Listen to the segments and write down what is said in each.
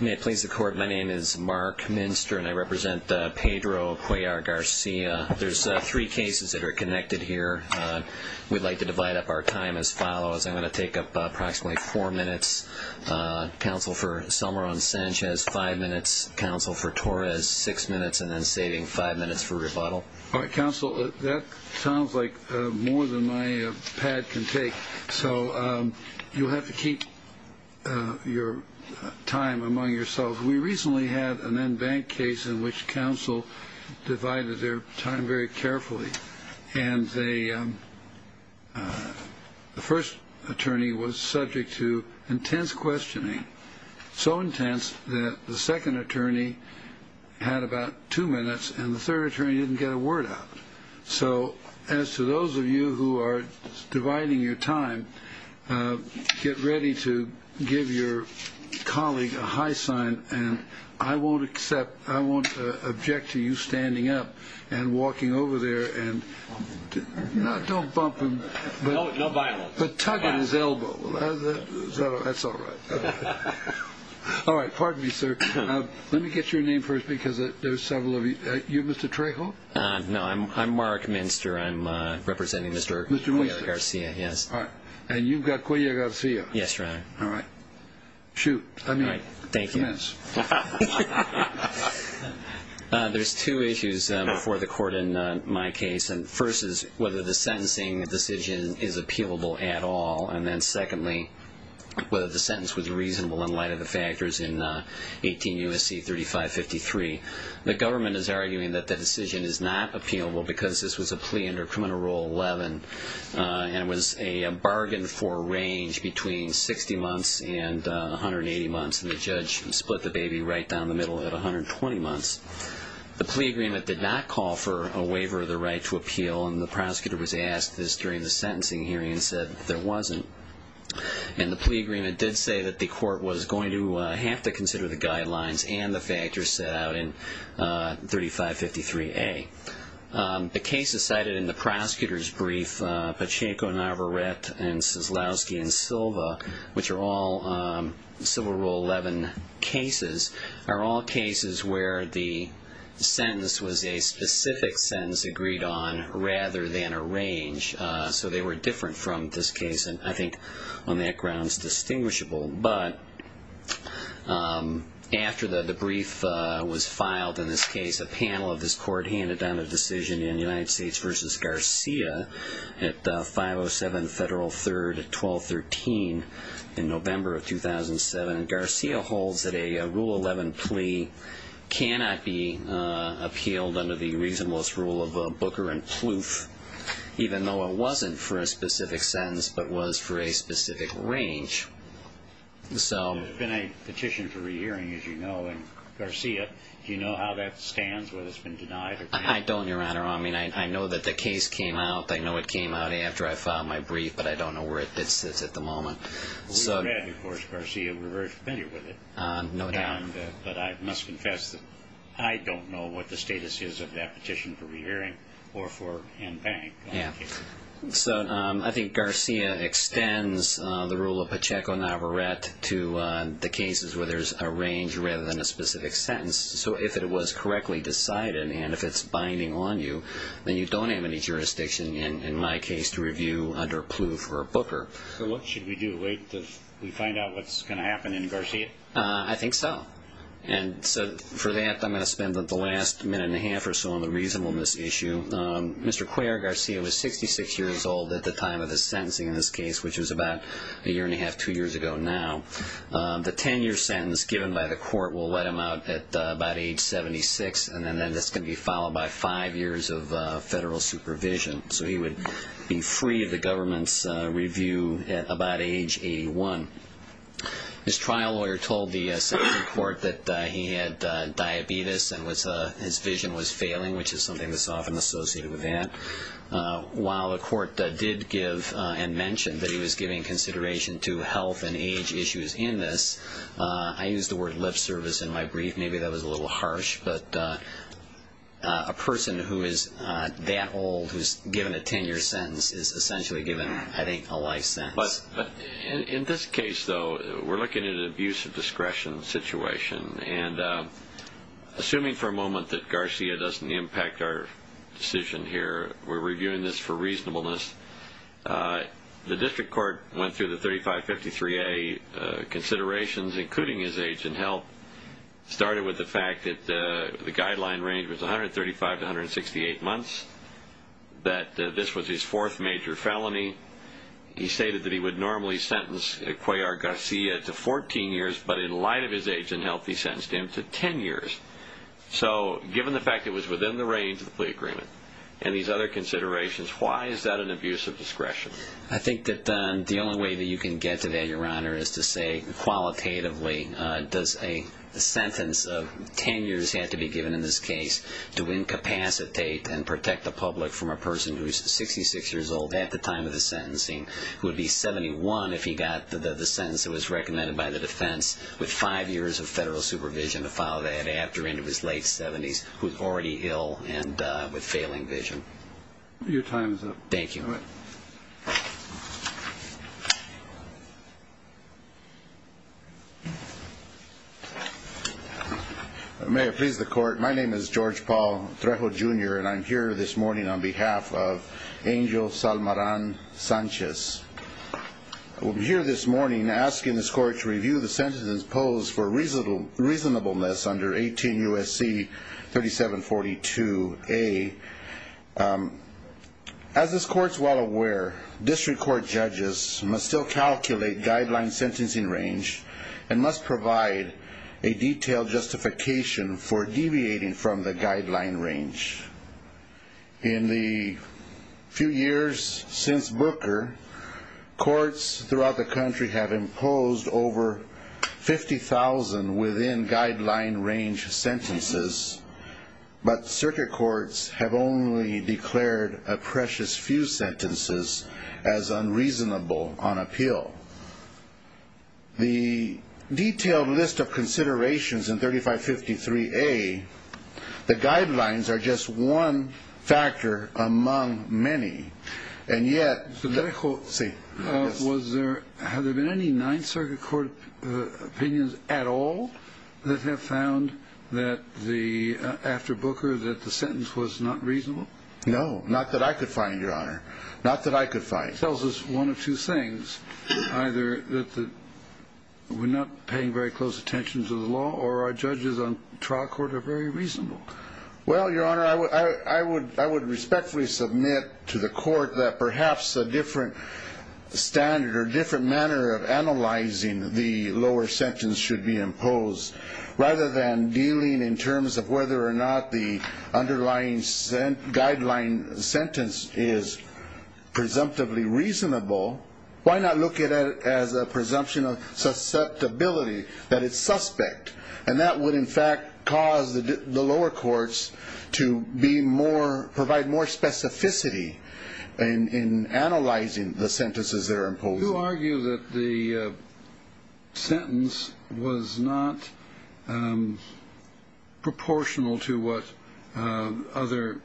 May it please the court, my name is Mark Minster and I represent Pedro Cuellar-Garcia. There's three cases that are connected here. We'd like to divide up our time as follows. I'm going to take up approximately four minutes. Counsel for Salmoran-Sanchez, five minutes. Counsel for Torres, six minutes. And then saving five minutes for rebuttal. All right, counsel, that sounds like more than my pad can take. So you'll have to keep your time among yourselves. We recently had an in-bank case in which counsel divided their time very carefully. And the first attorney was subject to intense questioning, so intense that the second attorney had about two minutes and the third attorney didn't get a word out. So as to those of you who are dividing your time, get ready to give your colleague a high sign. And I won't accept, I won't object to you standing up and walking over there and, no, don't bump him. No violence. But tugging his elbow. That's all right. All right, pardon me, sir. Let me get your name first because there's several of you. Are you Mr. Trejo? No, I'm Mark Minster. I'm representing Mr. Cuellar-Garcia, yes. All right. And you've got Cuellar-Garcia. Yes, Your Honor. All right. Shoot. I mean it. Thank you. Commence. There's two issues before the court in my case. And the first is whether the sentencing decision is appealable at all. And then secondly, whether the sentence was reasonable in light of the factors in 18 U.S.C. 3553. The government is arguing that the decision is not appealable because this was a plea under Criminal Rule 11. And it was a bargain for a range between 60 months and 180 months. And the judge split the baby right down the middle at 120 months. The plea agreement did not call for a waiver of the right to appeal. And the prosecutor was asked this during the sentencing hearing and said there wasn't. And the plea agreement did say that the court was going to have to consider the guidelines and the factors set out in 3553A. The cases cited in the prosecutor's brief, Pacheco, Navarrete, and Soslowski and Silva, which are all Civil Rule 11 cases, are all cases where the sentence was a specific sentence agreed on rather than a range. So they were different from this case, and I think on that ground it's distinguishable. But after the brief was filed in this case, a panel of this court handed down a decision in United States v. Garcia at 507 Federal 3rd, 1213, in November of 2007. And Garcia holds that a Rule 11 plea cannot be appealed under the reasonablest rule of Booker and Plouffe, even though it wasn't for a specific sentence but was for a specific range. There's been a petition for rehearing, as you know. And Garcia, do you know how that stands, whether it's been denied or not? I don't, Your Honor. I mean, I know that the case came out. I know it came out after I filed my brief, but I don't know where it sits at the moment. Well, we've met, of course, Garcia. We've been here with it. No doubt. But I must confess that I don't know what the status is of that petition for rehearing or for in bank. Yeah. So I think Garcia extends the rule of Pacheco-Navarrette to the cases where there's a range rather than a specific sentence. So if it was correctly decided and if it's binding on you, then you don't have any jurisdiction in my case to review under Plouffe or Booker. So what should we do? Wait until we find out what's going to happen in Garcia? I think so. And so for that, I'm going to spend the last minute and a half or so on the reasonableness issue. Mr. Cuellar Garcia was 66 years old at the time of his sentencing in this case, which was about a year and a half, two years ago now. The 10-year sentence given by the court will let him out at about age 76, and then this can be followed by five years of federal supervision. So he would be free of the government's review at about age 81. His trial lawyer told the Supreme Court that he had diabetes and his vision was failing, which is something that's often associated with that. While the court did give and mention that he was giving consideration to health and age issues in this, I used the word lip service in my brief. Maybe that was a little harsh, but a person who is that old who's given a 10-year sentence is essentially given, I think, a life sentence. But in this case, though, we're looking at an abuse of discretion situation, and assuming for a moment that Garcia doesn't impact our decision here, we're reviewing this for reasonableness. The district court went through the 3553A considerations, including his age and health. It started with the fact that the guideline range was 135 to 168 months, that this was his fourth major felony. He stated that he would normally sentence Ecuador Garcia to 14 years, but in light of his age and health, he sentenced him to 10 years. So given the fact it was within the range of the plea agreement and these other considerations, why is that an abuse of discretion? I think that the only way that you can get to that, Your Honor, is to say qualitatively, does a sentence of 10 years have to be given in this case to incapacitate and protect the public from a person who's 66 years old at the time of the sentencing, who would be 71 if he got the sentence that was recommended by the defense, with five years of federal supervision to follow that after into his late 70s, who's already ill and with failing vision. Your time is up. Thank you. All right. May it please the Court, my name is George Paul Trejo, Jr., and I'm here this morning on behalf of Angel Salmaran Sanchez. I'm here this morning asking this Court to review the sentences posed for reasonableness under 18 U.S.C. 3742A. As this Court's well aware, district court judges must still calculate guideline sentencing range and must provide a detailed justification for deviating from the guideline range. In the few years since Booker, courts throughout the country have imposed over 50,000 within guideline range sentences, but circuit courts have only declared a precious few sentences as unreasonable on appeal. The detailed list of considerations in 3553A, the guidelines are just one factor among many, and yet- Mr. Trejo, have there been any Ninth Circuit Court opinions at all that have found that after Booker that the sentence was not reasonable? No, not that I could find, Your Honor. Not that I could find. That tells us one of two things, either that we're not paying very close attention to the law or our judges on trial court are very reasonable. Well, Your Honor, I would respectfully submit to the Court that perhaps a different standard or different manner of analyzing the lower sentence should be imposed rather than dealing in terms of whether or not the underlying guideline sentence is presumptively reasonable. Why not look at it as a presumption of susceptibility, that it's suspect? And that would, in fact, cause the lower courts to be more- provide more specificity in analyzing the sentences they're imposing. You argue that the sentence was not proportional to what other-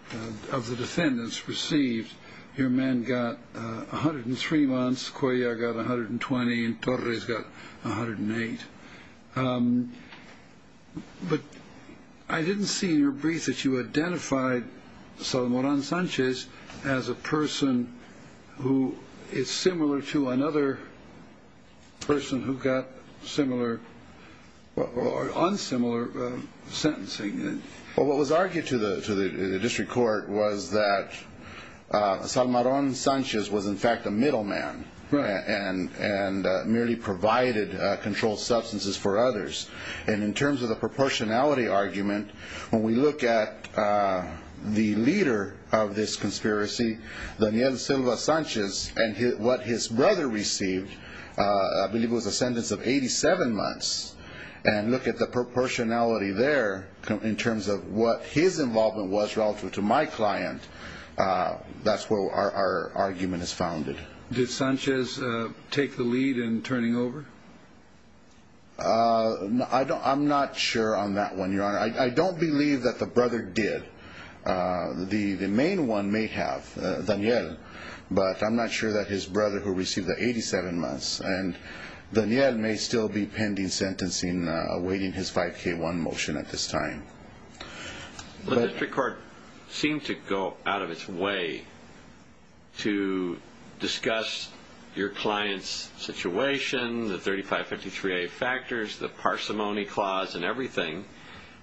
of the defendants received. Your men got 103 months, Coya got 120, and Torres got 108. But I didn't see in your brief that you identified Salomarán Sánchez as a person who is similar to another person who got similar or unsimilar sentencing. Well, what was argued to the district court was that Salomarán Sánchez was, in fact, a middleman and merely provided controlled substances for others. And in terms of the proportionality argument, when we look at the leader of this conspiracy, Daniel Silva Sánchez and what his brother received, I believe it was a sentence of 87 months, and look at the proportionality there in terms of what his involvement was relative to my client, that's where our argument is founded. Did Sánchez take the lead in turning over? I'm not sure on that one, Your Honor. I don't believe that the brother did. The main one may have, Daniel, but I'm not sure that his brother, who received the 87 months, and Daniel may still be pending sentencing, awaiting his 5K1 motion at this time. The district court seemed to go out of its way to discuss your client's situation, the 3553A factors, the parsimony clause and everything,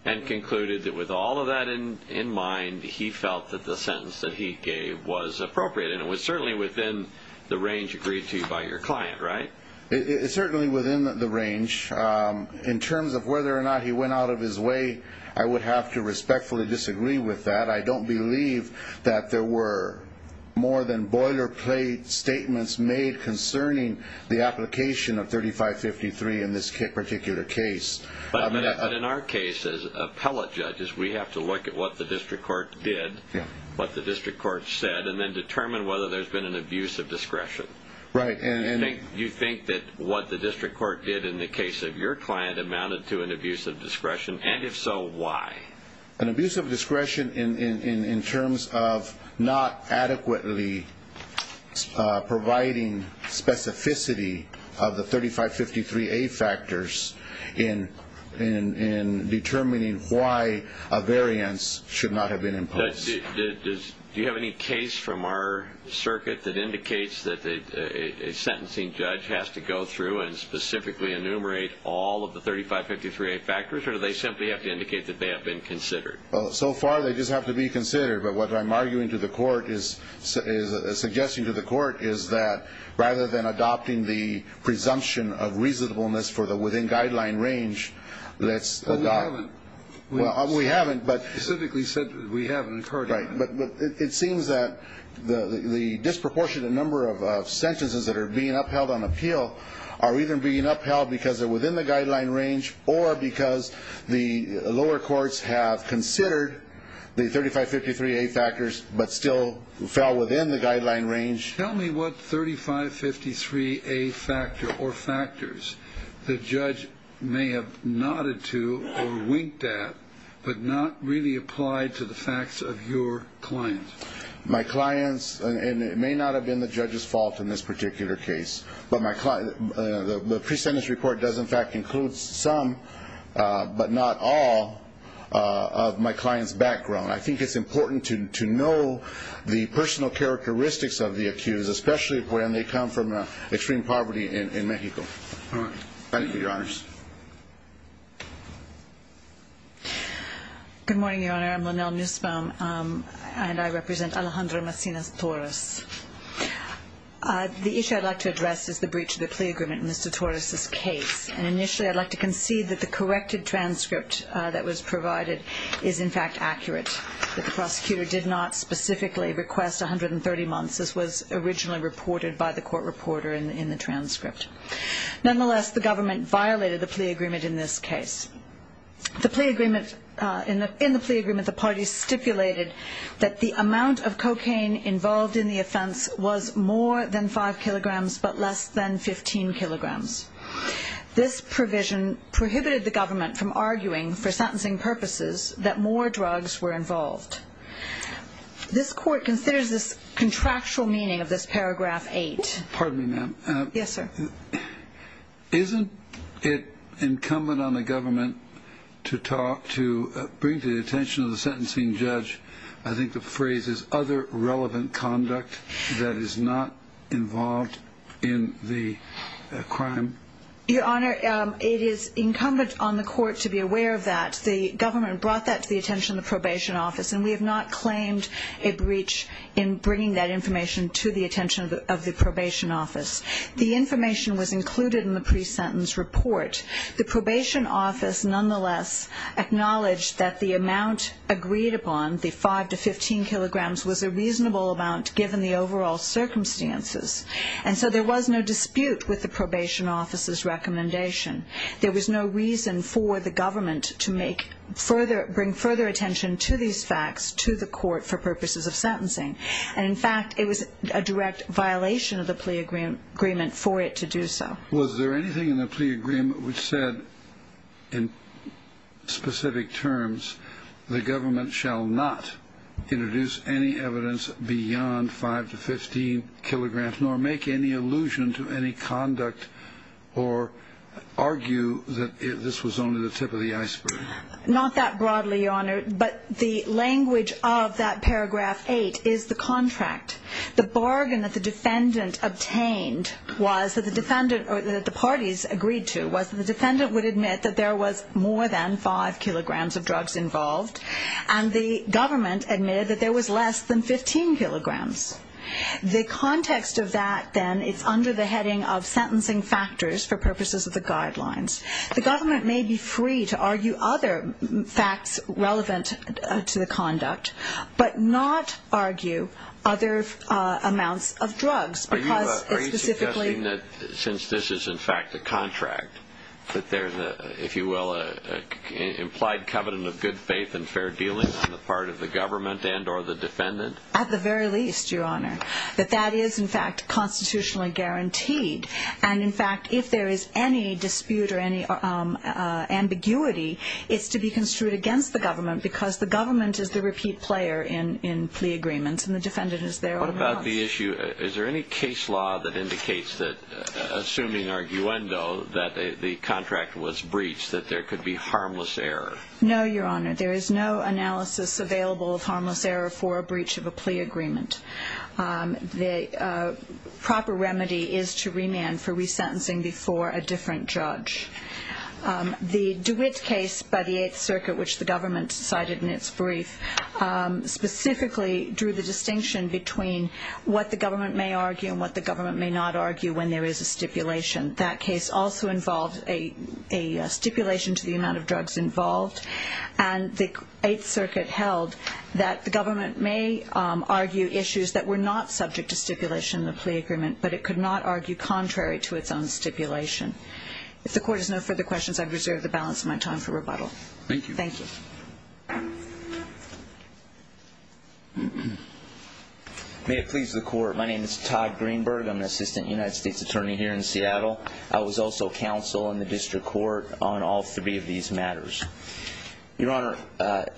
and concluded that with all of that in mind, he felt that the sentence that he gave was appropriate, and it was certainly within the range agreed to by your client, right? It's certainly within the range. In terms of whether or not he went out of his way, I would have to respectfully disagree with that. I don't believe that there were more than boilerplate statements made concerning the application of 3553 in this particular case. But in our case, as appellate judges, we have to look at what the district court did, what the district court said, and then determine whether there's been an abuse of discretion. You think that what the district court did in the case of your client amounted to an abuse of discretion? And if so, why? An abuse of discretion in terms of not adequately providing specificity of the 3553A factors in determining why a variance should not have been imposed. Do you have any case from our circuit that indicates that a sentencing judge has to go through and specifically enumerate all of the 3553A factors, or do they simply have to indicate that they have been considered? So far, they just have to be considered. But what I'm arguing to the court is, suggesting to the court, is that rather than adopting the presumption of reasonableness for the within-guideline range, Well, we haven't. We haven't, but it seems that the disproportionate number of sentences that are being upheld on appeal are either being upheld because they're within the guideline range or because the lower courts have considered the 3553A factors but still fell within the guideline range. Judge, tell me what 3553A factor or factors the judge may have nodded to or winked at but not really applied to the facts of your client. My client's, and it may not have been the judge's fault in this particular case, but the pre-sentence report does in fact include some, but not all, of my client's background. I think it's important to know the personal characteristics of the accused, especially when they come from extreme poverty in Mexico. All right. Thank you, Your Honors. Good morning, Your Honor. I'm Lynelle Nussbaum, and I represent Alejandro Macinas-Torres. The issue I'd like to address is the breach of the plea agreement in Mr. Torres' case. And initially I'd like to concede that the corrected transcript that was provided is in fact accurate, that the prosecutor did not specifically request 130 months. This was originally reported by the court reporter in the transcript. Nonetheless, the government violated the plea agreement in this case. In the plea agreement, the party stipulated that the amount of cocaine involved in the offense was more than 5 kilograms but less than 15 kilograms. This provision prohibited the government from arguing for sentencing purposes that more drugs were involved. This court considers this contractual meaning of this paragraph 8. Pardon me, ma'am. Yes, sir. Isn't it incumbent on the government to talk, to bring to the attention of the sentencing judge, I think the phrase is, other relevant conduct that is not involved in the crime? Your Honor, it is incumbent on the court to be aware of that. The government brought that to the attention of the probation office, and we have not claimed a breach in bringing that information to the attention of the probation office. The information was included in the pre-sentence report. The probation office nonetheless acknowledged that the amount agreed upon, the 5 to 15 kilograms, was a reasonable amount given the overall circumstances. And so there was no dispute with the probation office's recommendation. There was no reason for the government to make further, bring further attention to these facts to the court for purposes of sentencing. And, in fact, it was a direct violation of the plea agreement for it to do so. Was there anything in the plea agreement which said in specific terms the government shall not introduce any evidence beyond 5 to 15 kilograms nor make any allusion to any conduct or argue that this was only the tip of the iceberg? Not that broadly, Your Honor, but the language of that paragraph 8 is the contract. The bargain that the defendant obtained was that the parties agreed to was that the defendant would admit that there was more than 5 kilograms of drugs involved, and the government admitted that there was less than 15 kilograms. The context of that, then, is under the heading of sentencing factors for purposes of the guidelines. The government may be free to argue other facts relevant to the conduct, but not argue other amounts of drugs. Are you suggesting that since this is, in fact, a contract, that there is, if you will, an implied covenant of good faith and fair dealing on the part of the government and or the defendant? At the very least, Your Honor, that that is, in fact, constitutionally guaranteed. And, in fact, if there is any dispute or any ambiguity, it's to be construed against the government because the government is the repeat player in plea agreements, and the defendant is there automatically. What about the issue? Is there any case law that indicates that, assuming arguendo, that the contract was breached, that there could be harmless error? No, Your Honor. There is no analysis available of harmless error for a breach of a plea agreement. The proper remedy is to remand for resentencing before a different judge. The DeWitt case by the Eighth Circuit, which the government cited in its brief, specifically drew the distinction between what the government may argue and what the government may not argue when there is a stipulation. That case also involved a stipulation to the amount of drugs involved, and the Eighth Circuit held that the government may argue issues that were not subject to stipulation in the plea agreement, but it could not argue contrary to its own stipulation. If the Court has no further questions, I reserve the balance of my time for rebuttal. Thank you. Thank you. May it please the Court. My name is Todd Greenberg. I'm an assistant United States attorney here in Seattle. I was also counsel in the district court on all three of these matters. Your Honor,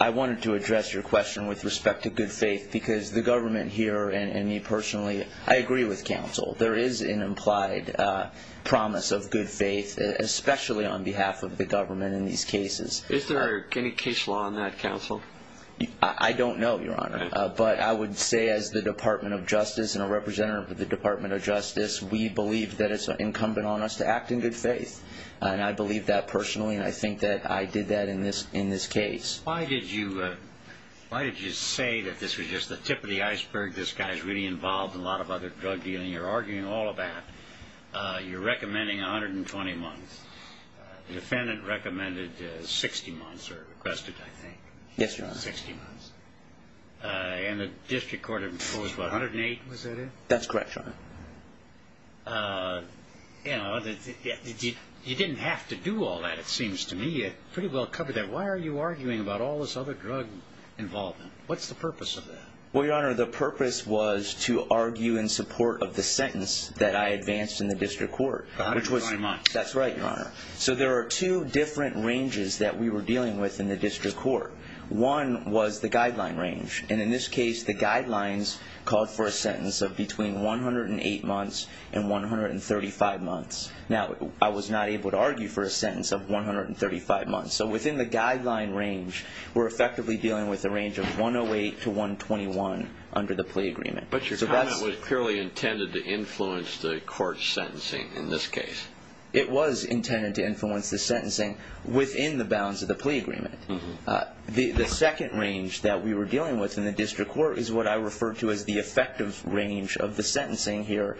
I wanted to address your question with respect to good faith because the government here and me personally, I agree with counsel. There is an implied promise of good faith, especially on behalf of the government in these cases. Is there any case law in that, counsel? I don't know, Your Honor, but I would say as the Department of Justice and a representative of the Department of Justice, we believe that it's incumbent on us to act in good faith, and I believe that personally, and I think that I did that in this case. Why did you say that this was just the tip of the iceberg, this guy's really involved in a lot of other drug dealing you're arguing all about? You're recommending 120 months. The defendant recommended 60 months or requested, I think. Yes, Your Honor. 60 months. And the district court imposed 108, was that it? That's correct, Your Honor. You know, you didn't have to do all that, it seems to me. You pretty well covered that. Why are you arguing about all this other drug involvement? What's the purpose of that? Well, Your Honor, the purpose was to argue in support of the sentence that I advanced in the district court. 120 months. That's right, Your Honor. So there are two different ranges that we were dealing with in the district court. One was the guideline range, and in this case, the guidelines called for a sentence of between 108 months and 135 months. Now, I was not able to argue for a sentence of 135 months, so within the guideline range, we're effectively dealing with a range of 108 to 121 under the plea agreement. But your comment was purely intended to influence the court's sentencing in this case. It was intended to influence the sentencing within the bounds of the plea agreement. The second range that we were dealing with in the district court is what I refer to as the effective range of the sentencing here,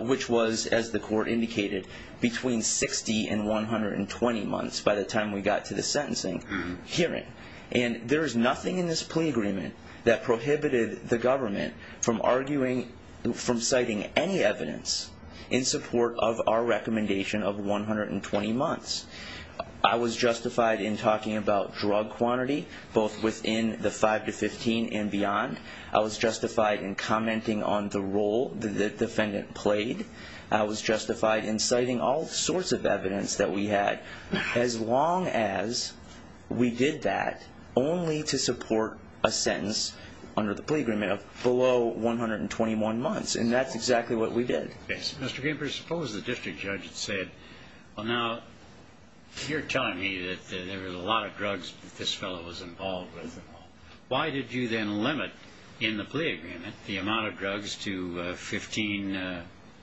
which was, as the court indicated, between 60 and 120 months by the time we got to the sentencing hearing. And there is nothing in this plea agreement that prohibited the government from arguing, from citing any evidence in support of our recommendation of 120 months. I was justified in talking about drug quantity both within the 5 to 15 and beyond. I was justified in commenting on the role that the defendant played. I was justified in citing all sorts of evidence that we had, as long as we did that only to support a sentence under the plea agreement of below 121 months. And that's exactly what we did. Yes. Mr. Gamper, suppose the district judge had said, well, now, you're telling me that there was a lot of drugs that this fellow was involved with. Why did you then limit in the plea agreement the amount of drugs to 15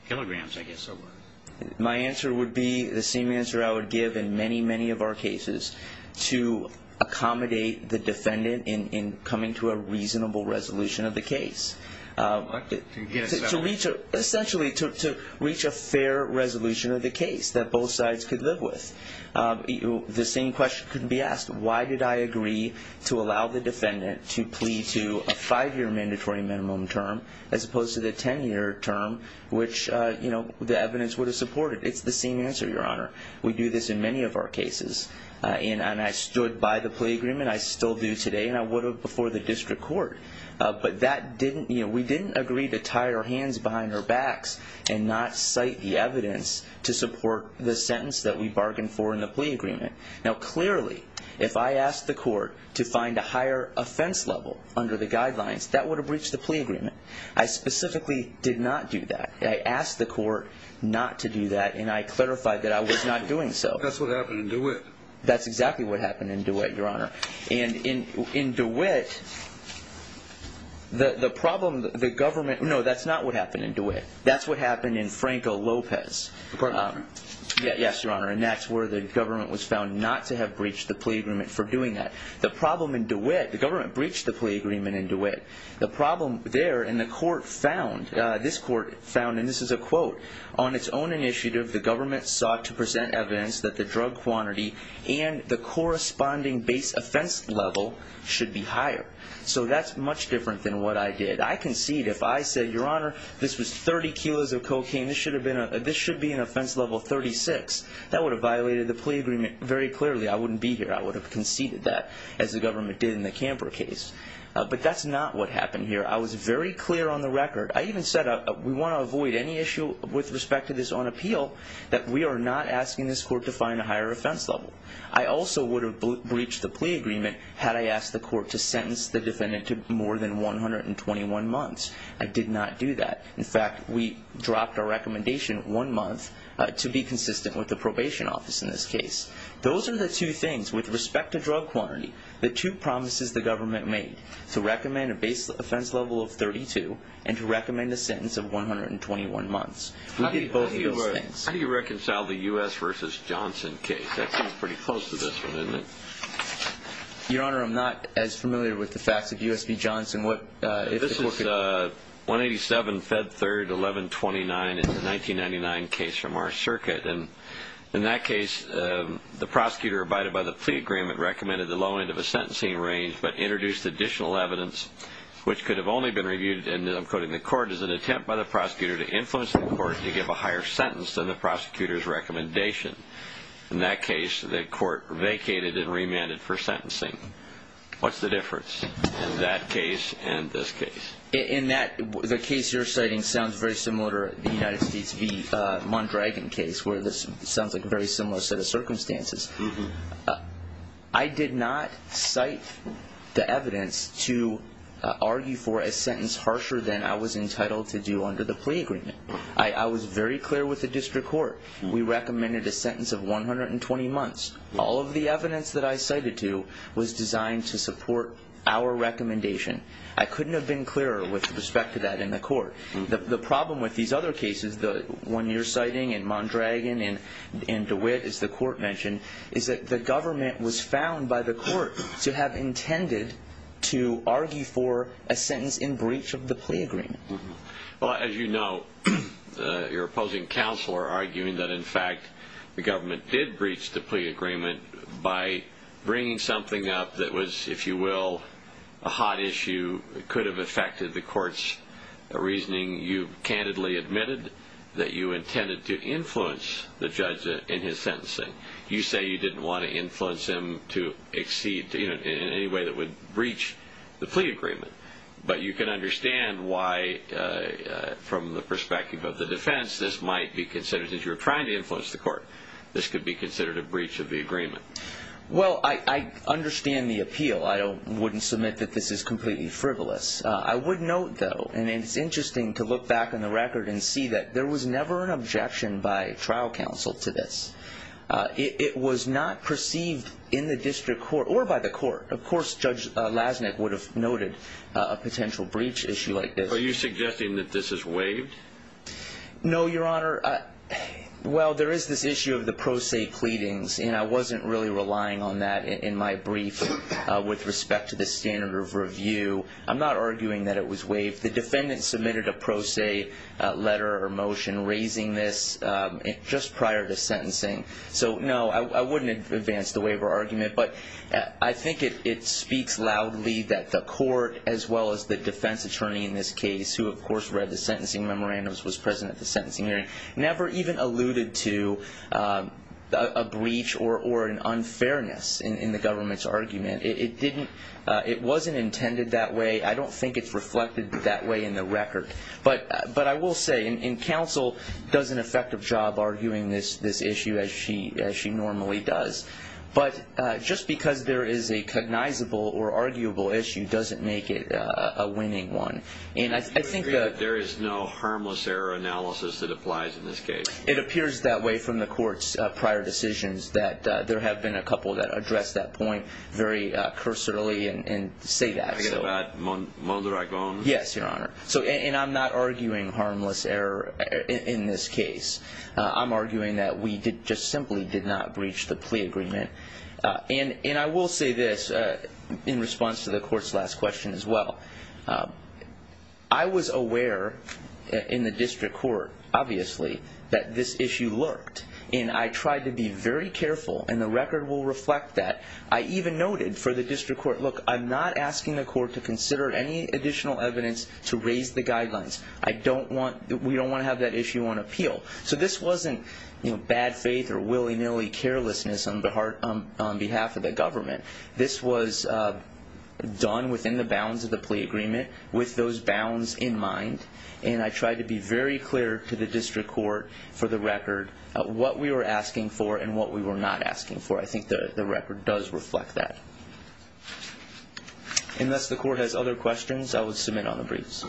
kilograms, I guess it was? My answer would be the same answer I would give in many, many of our cases, to accommodate the defendant in coming to a reasonable resolution of the case. What? To get a settlement? Essentially, to reach a fair resolution of the case that both sides could live with. The same question could be asked. Why did I agree to allow the defendant to plea to a five-year mandatory minimum term as opposed to the 10-year term, which the evidence would have supported? It's the same answer, Your Honor. We do this in many of our cases. And I stood by the plea agreement. I still do today, and I would have before the district court. But that didn't, you know, we didn't agree to tie our hands behind our backs and not cite the evidence to support the sentence that we bargained for in the plea agreement. Now, clearly, if I asked the court to find a higher offense level under the guidelines, that would have breached the plea agreement. I specifically did not do that. I asked the court not to do that, and I clarified that I was not doing so. That's what happened in DeWitt. That's exactly what happened in DeWitt, Your Honor. And in DeWitt, the problem, the government, no, that's not what happened in DeWitt. That's what happened in Franco Lopez. Yes, Your Honor. And that's where the government was found not to have breached the plea agreement for doing that. The problem in DeWitt, the government breached the plea agreement in DeWitt. The problem there, and the court found, this court found, and this is a quote, on its own initiative, the government sought to present evidence that the drug quantity and the corresponding base offense level should be higher. So that's much different than what I did. I concede if I said, Your Honor, this was 30 kilos of cocaine. This should be an offense level 36. That would have violated the plea agreement very clearly. I wouldn't be here. I would have conceded that, as the government did in the Camper case. But that's not what happened here. I was very clear on the record. I even said we want to avoid any issue with respect to this on appeal, that we are not asking this court to find a higher offense level. I also would have breached the plea agreement had I asked the court to sentence the defendant to more than 121 months. I did not do that. In fact, we dropped our recommendation one month to be consistent with the probation office in this case. Those are the two things, with respect to drug quantity, the two promises the government made, to recommend a base offense level of 32 and to recommend a sentence of 121 months. We did both of those things. How do you reconcile the U.S. v. Johnson case? That seems pretty close to this one, isn't it? Your Honor, I'm not as familiar with the facts of U.S. v. Johnson. This is 187, Fed 3rd, 1129. It's a 1999 case from our circuit. In that case, the prosecutor abided by the plea agreement, recommended the low end of a sentencing range, but introduced additional evidence, which could have only been reviewed in, I'm quoting, the court as an attempt by the prosecutor to influence the court to give a higher sentence than the prosecutor's recommendation. In that case, the court vacated and remanded for sentencing. What's the difference in that case and this case? The case you're citing sounds very similar to the United States v. Mondragon case, where this sounds like a very similar set of circumstances. I did not cite the evidence to argue for a sentence harsher than I was entitled to do under the plea agreement. I was very clear with the district court. We recommended a sentence of 120 months. All of the evidence that I cited to was designed to support our recommendation. I couldn't have been clearer with respect to that in the court. The problem with these other cases, the one you're citing and Mondragon and DeWitt, as the court mentioned, is that the government was found by the court to have intended to argue for a sentence in breach of the plea agreement. Well, as you know, your opposing counsel are arguing that, in fact, the government did breach the plea agreement by bringing something up that was, if you will, a hot issue. You could have affected the court's reasoning. You candidly admitted that you intended to influence the judge in his sentencing. You say you didn't want to influence him to exceed, in any way that would breach the plea agreement. But you can understand why, from the perspective of the defense, this might be considered, since you were trying to influence the court, this could be considered a breach of the agreement. Well, I understand the appeal. I wouldn't submit that this is completely frivolous. I would note, though, and it's interesting to look back on the record and see that there was never an objection by trial counsel to this. It was not perceived in the district court or by the court. Of course, Judge Lasnik would have noted a potential breach issue like this. Are you suggesting that this is waived? No, Your Honor. Well, there is this issue of the pro se pleadings, and I wasn't really relying on that in my brief with respect to the standard of review. I'm not arguing that it was waived. The defendant submitted a pro se letter or motion raising this just prior to sentencing. So, no, I wouldn't advance the waiver argument. But I think it speaks loudly that the court, as well as the defense attorney in this case, who, of course, read the sentencing memorandums, was present at the sentencing hearing, never even alluded to a breach or an unfairness in the government's argument. It wasn't intended that way. I don't think it's reflected that way in the record. But I will say, and counsel does an effective job arguing this issue, as she normally does, but just because there is a cognizable or arguable issue doesn't make it a winning one. And you agree that there is no harmless error analysis that applies in this case? It appears that way from the court's prior decisions, that there have been a couple that address that point very cursorily and say that. Are you talking about Mondragon? Yes, Your Honor. And I'm not arguing harmless error in this case. I'm arguing that we just simply did not breach the plea agreement. And I will say this in response to the court's last question as well. I was aware in the district court, obviously, that this issue lurked. And I tried to be very careful, and the record will reflect that. I even noted for the district court, look, I'm not asking the court to consider any additional evidence to raise the guidelines. We don't want to have that issue on appeal. So this wasn't bad faith or willy-nilly carelessness on behalf of the government. This was done within the bounds of the plea agreement with those bounds in mind. And I tried to be very clear to the district court for the record what we were asking for and what we were not asking for. I think the record does reflect that. Unless the court has other questions, I will submit on the briefs.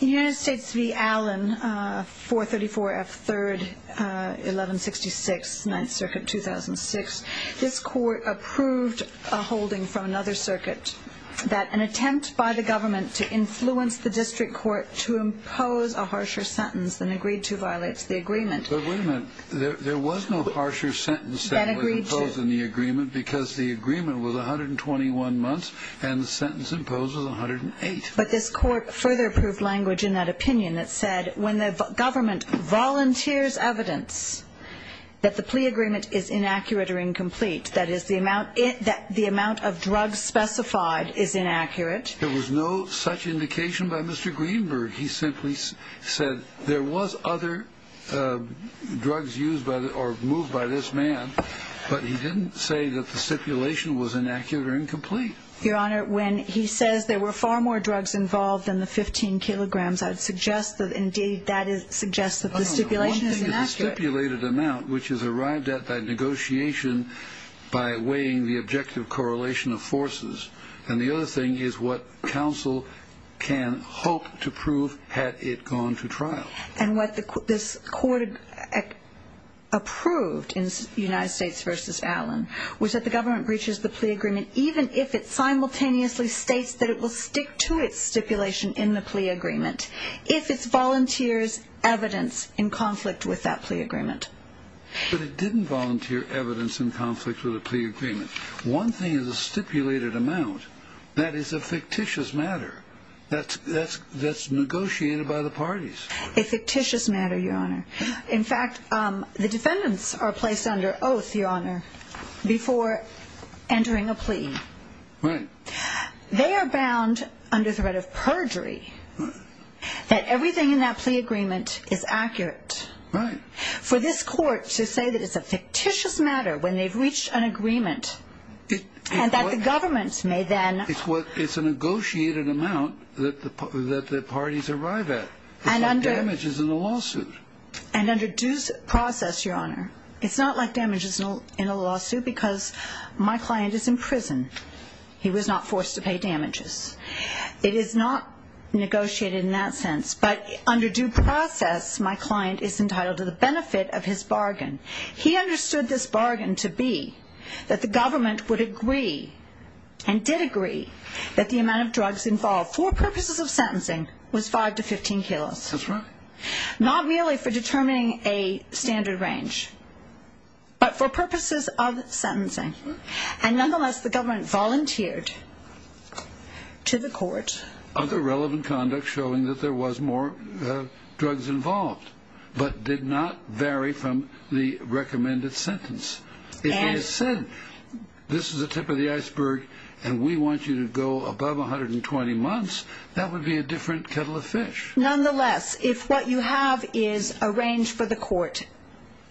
In the United States v. Allen, 434 F. 3rd, 1166, 9th Circuit, 2006, this court approved a holding from another circuit that an attempt by the government to influence the district court to impose a harsher sentence than agreed to violates the agreement. But wait a minute. There was no harsher sentence than was imposed in the agreement because the agreement was 121 months and the sentence imposed was 108. But this court further approved language in that opinion that said when the government volunteers evidence that the plea agreement is inaccurate or incomplete, that is, the amount of drugs specified is inaccurate. There was no such indication by Mr. Greenberg. He simply said there was other drugs used or moved by this man, but he didn't say that the stipulation was inaccurate or incomplete. Your Honor, when he says there were far more drugs involved than the 15 kilograms, I would suggest that indeed that suggests that the stipulation is inaccurate. One thing is the stipulated amount, which is arrived at by negotiation by weighing the objective correlation of forces, and the other thing is what counsel can hope to prove had it gone to trial. And what this court approved in United States v. Allen was that the government breaches the plea agreement even if it simultaneously states that it will stick to its stipulation in the plea agreement if it volunteers evidence in conflict with that plea agreement. But it didn't volunteer evidence in conflict with the plea agreement. One thing is the stipulated amount. That is a fictitious matter that's negotiated by the parties. A fictitious matter, Your Honor. In fact, the defendants are placed under oath, Your Honor, before entering a plea. Right. They are bound under threat of perjury that everything in that plea agreement is accurate. Right. For this court to say that it's a fictitious matter when they've reached an agreement and that the government may then... It's a negotiated amount that the parties arrive at. It's like damages in a lawsuit. And under due process, Your Honor, it's not like damages in a lawsuit because my client is in prison. He was not forced to pay damages. It is not negotiated in that sense. But under due process, my client is entitled to the benefit of his bargain. He understood this bargain to be that the government would agree and did agree that the amount of drugs involved for purposes of sentencing was 5 to 15 kilos. That's right. Not really for determining a standard range, but for purposes of sentencing. And nonetheless, the government volunteered to the court. Other relevant conduct showing that there was more drugs involved, but did not vary from the recommended sentence. If they said, this is the tip of the iceberg and we want you to go above 120 months, that would be a different kettle of fish. Nonetheless, if what you have is a range for the court,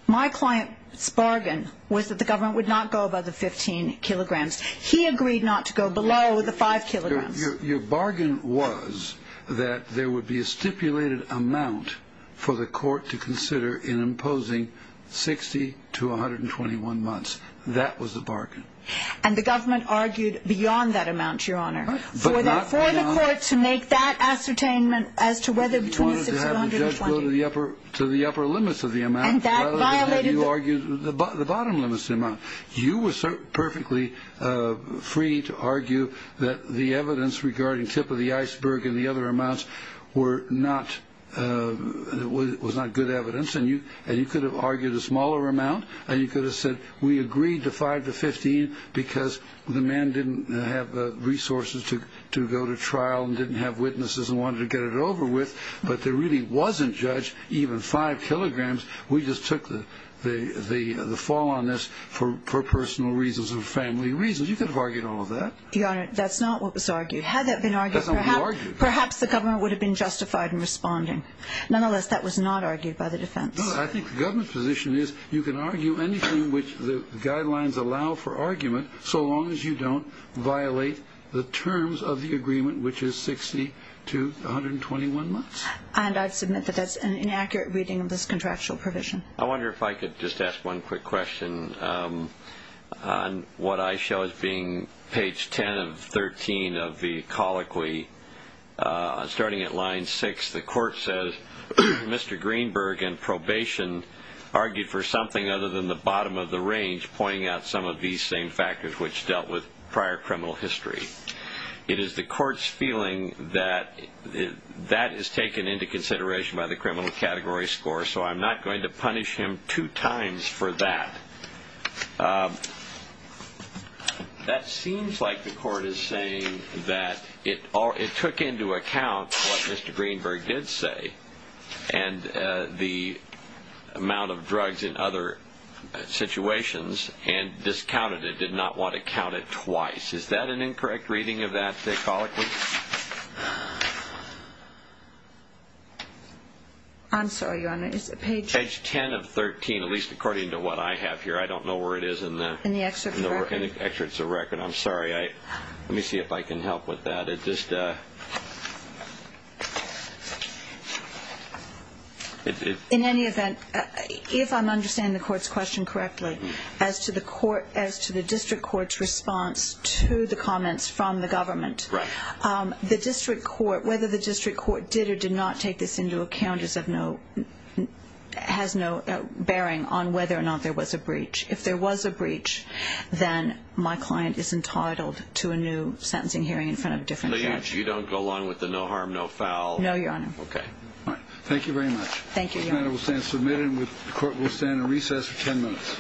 my client's bargain was that the government would not go above the 15 kilograms. He agreed not to go below the 5 kilograms. Your bargain was that there would be a stipulated amount for the court to consider in imposing 60 to 121 months. That was the bargain. And the government argued beyond that amount, Your Honor. For the court to make that ascertainment as to whether between 60 to 120. You wanted to have the judge go to the upper limits of the amount, rather than have you argue the bottom limits of the amount. You were perfectly free to argue that the evidence regarding tip of the iceberg and the other amounts was not good evidence, and you could have argued a smaller amount, and you could have said we agreed to 5 to 15 because the man didn't have the resources to go to trial and didn't have witnesses and wanted to get it over with, but there really wasn't, Judge, even 5 kilograms. We just took the fall on this for personal reasons and family reasons. You could have argued all of that. Your Honor, that's not what was argued. Had that been argued, perhaps the government would have been justified in responding. Nonetheless, that was not argued by the defense. I think the government's position is you can argue anything which the guidelines allow for argument so long as you don't violate the terms of the agreement, which is 60 to 121 months. And I submit that that's an inaccurate reading of this contractual provision. I wonder if I could just ask one quick question on what I show as being page 10 of 13 of the colloquy. Starting at line 6, the court says, Mr. Greenberg, in probation, argued for something other than the bottom of the range, pointing out some of these same factors which dealt with prior criminal history. It is the court's feeling that that is taken into consideration by the criminal category score, so I'm not going to punish him two times for that. That seems like the court is saying that it took into account what Mr. Greenberg did say and the amount of drugs in other situations and discounted it, did not want to count it twice. Is that an incorrect reading of that colloquy? I'm sorry, Your Honor. Page 10 of 13, at least according to what I have here. I don't know where it is in the excerpts of the record. I'm sorry. Let me see if I can help with that. In any event, if I'm understanding the court's question correctly, as to the district court's response to the comments from the government, the district court, whether the district court did or did not take this into account, has no bearing on whether or not there was a breach. If there was a breach, then my client is entitled to a new sentencing hearing in front of a different judge. So you don't go along with the no harm, no foul? No, Your Honor. Okay. Thank you very much. Thank you, Your Honor. This matter will stand submitted and the court will stand in recess for 10 minutes.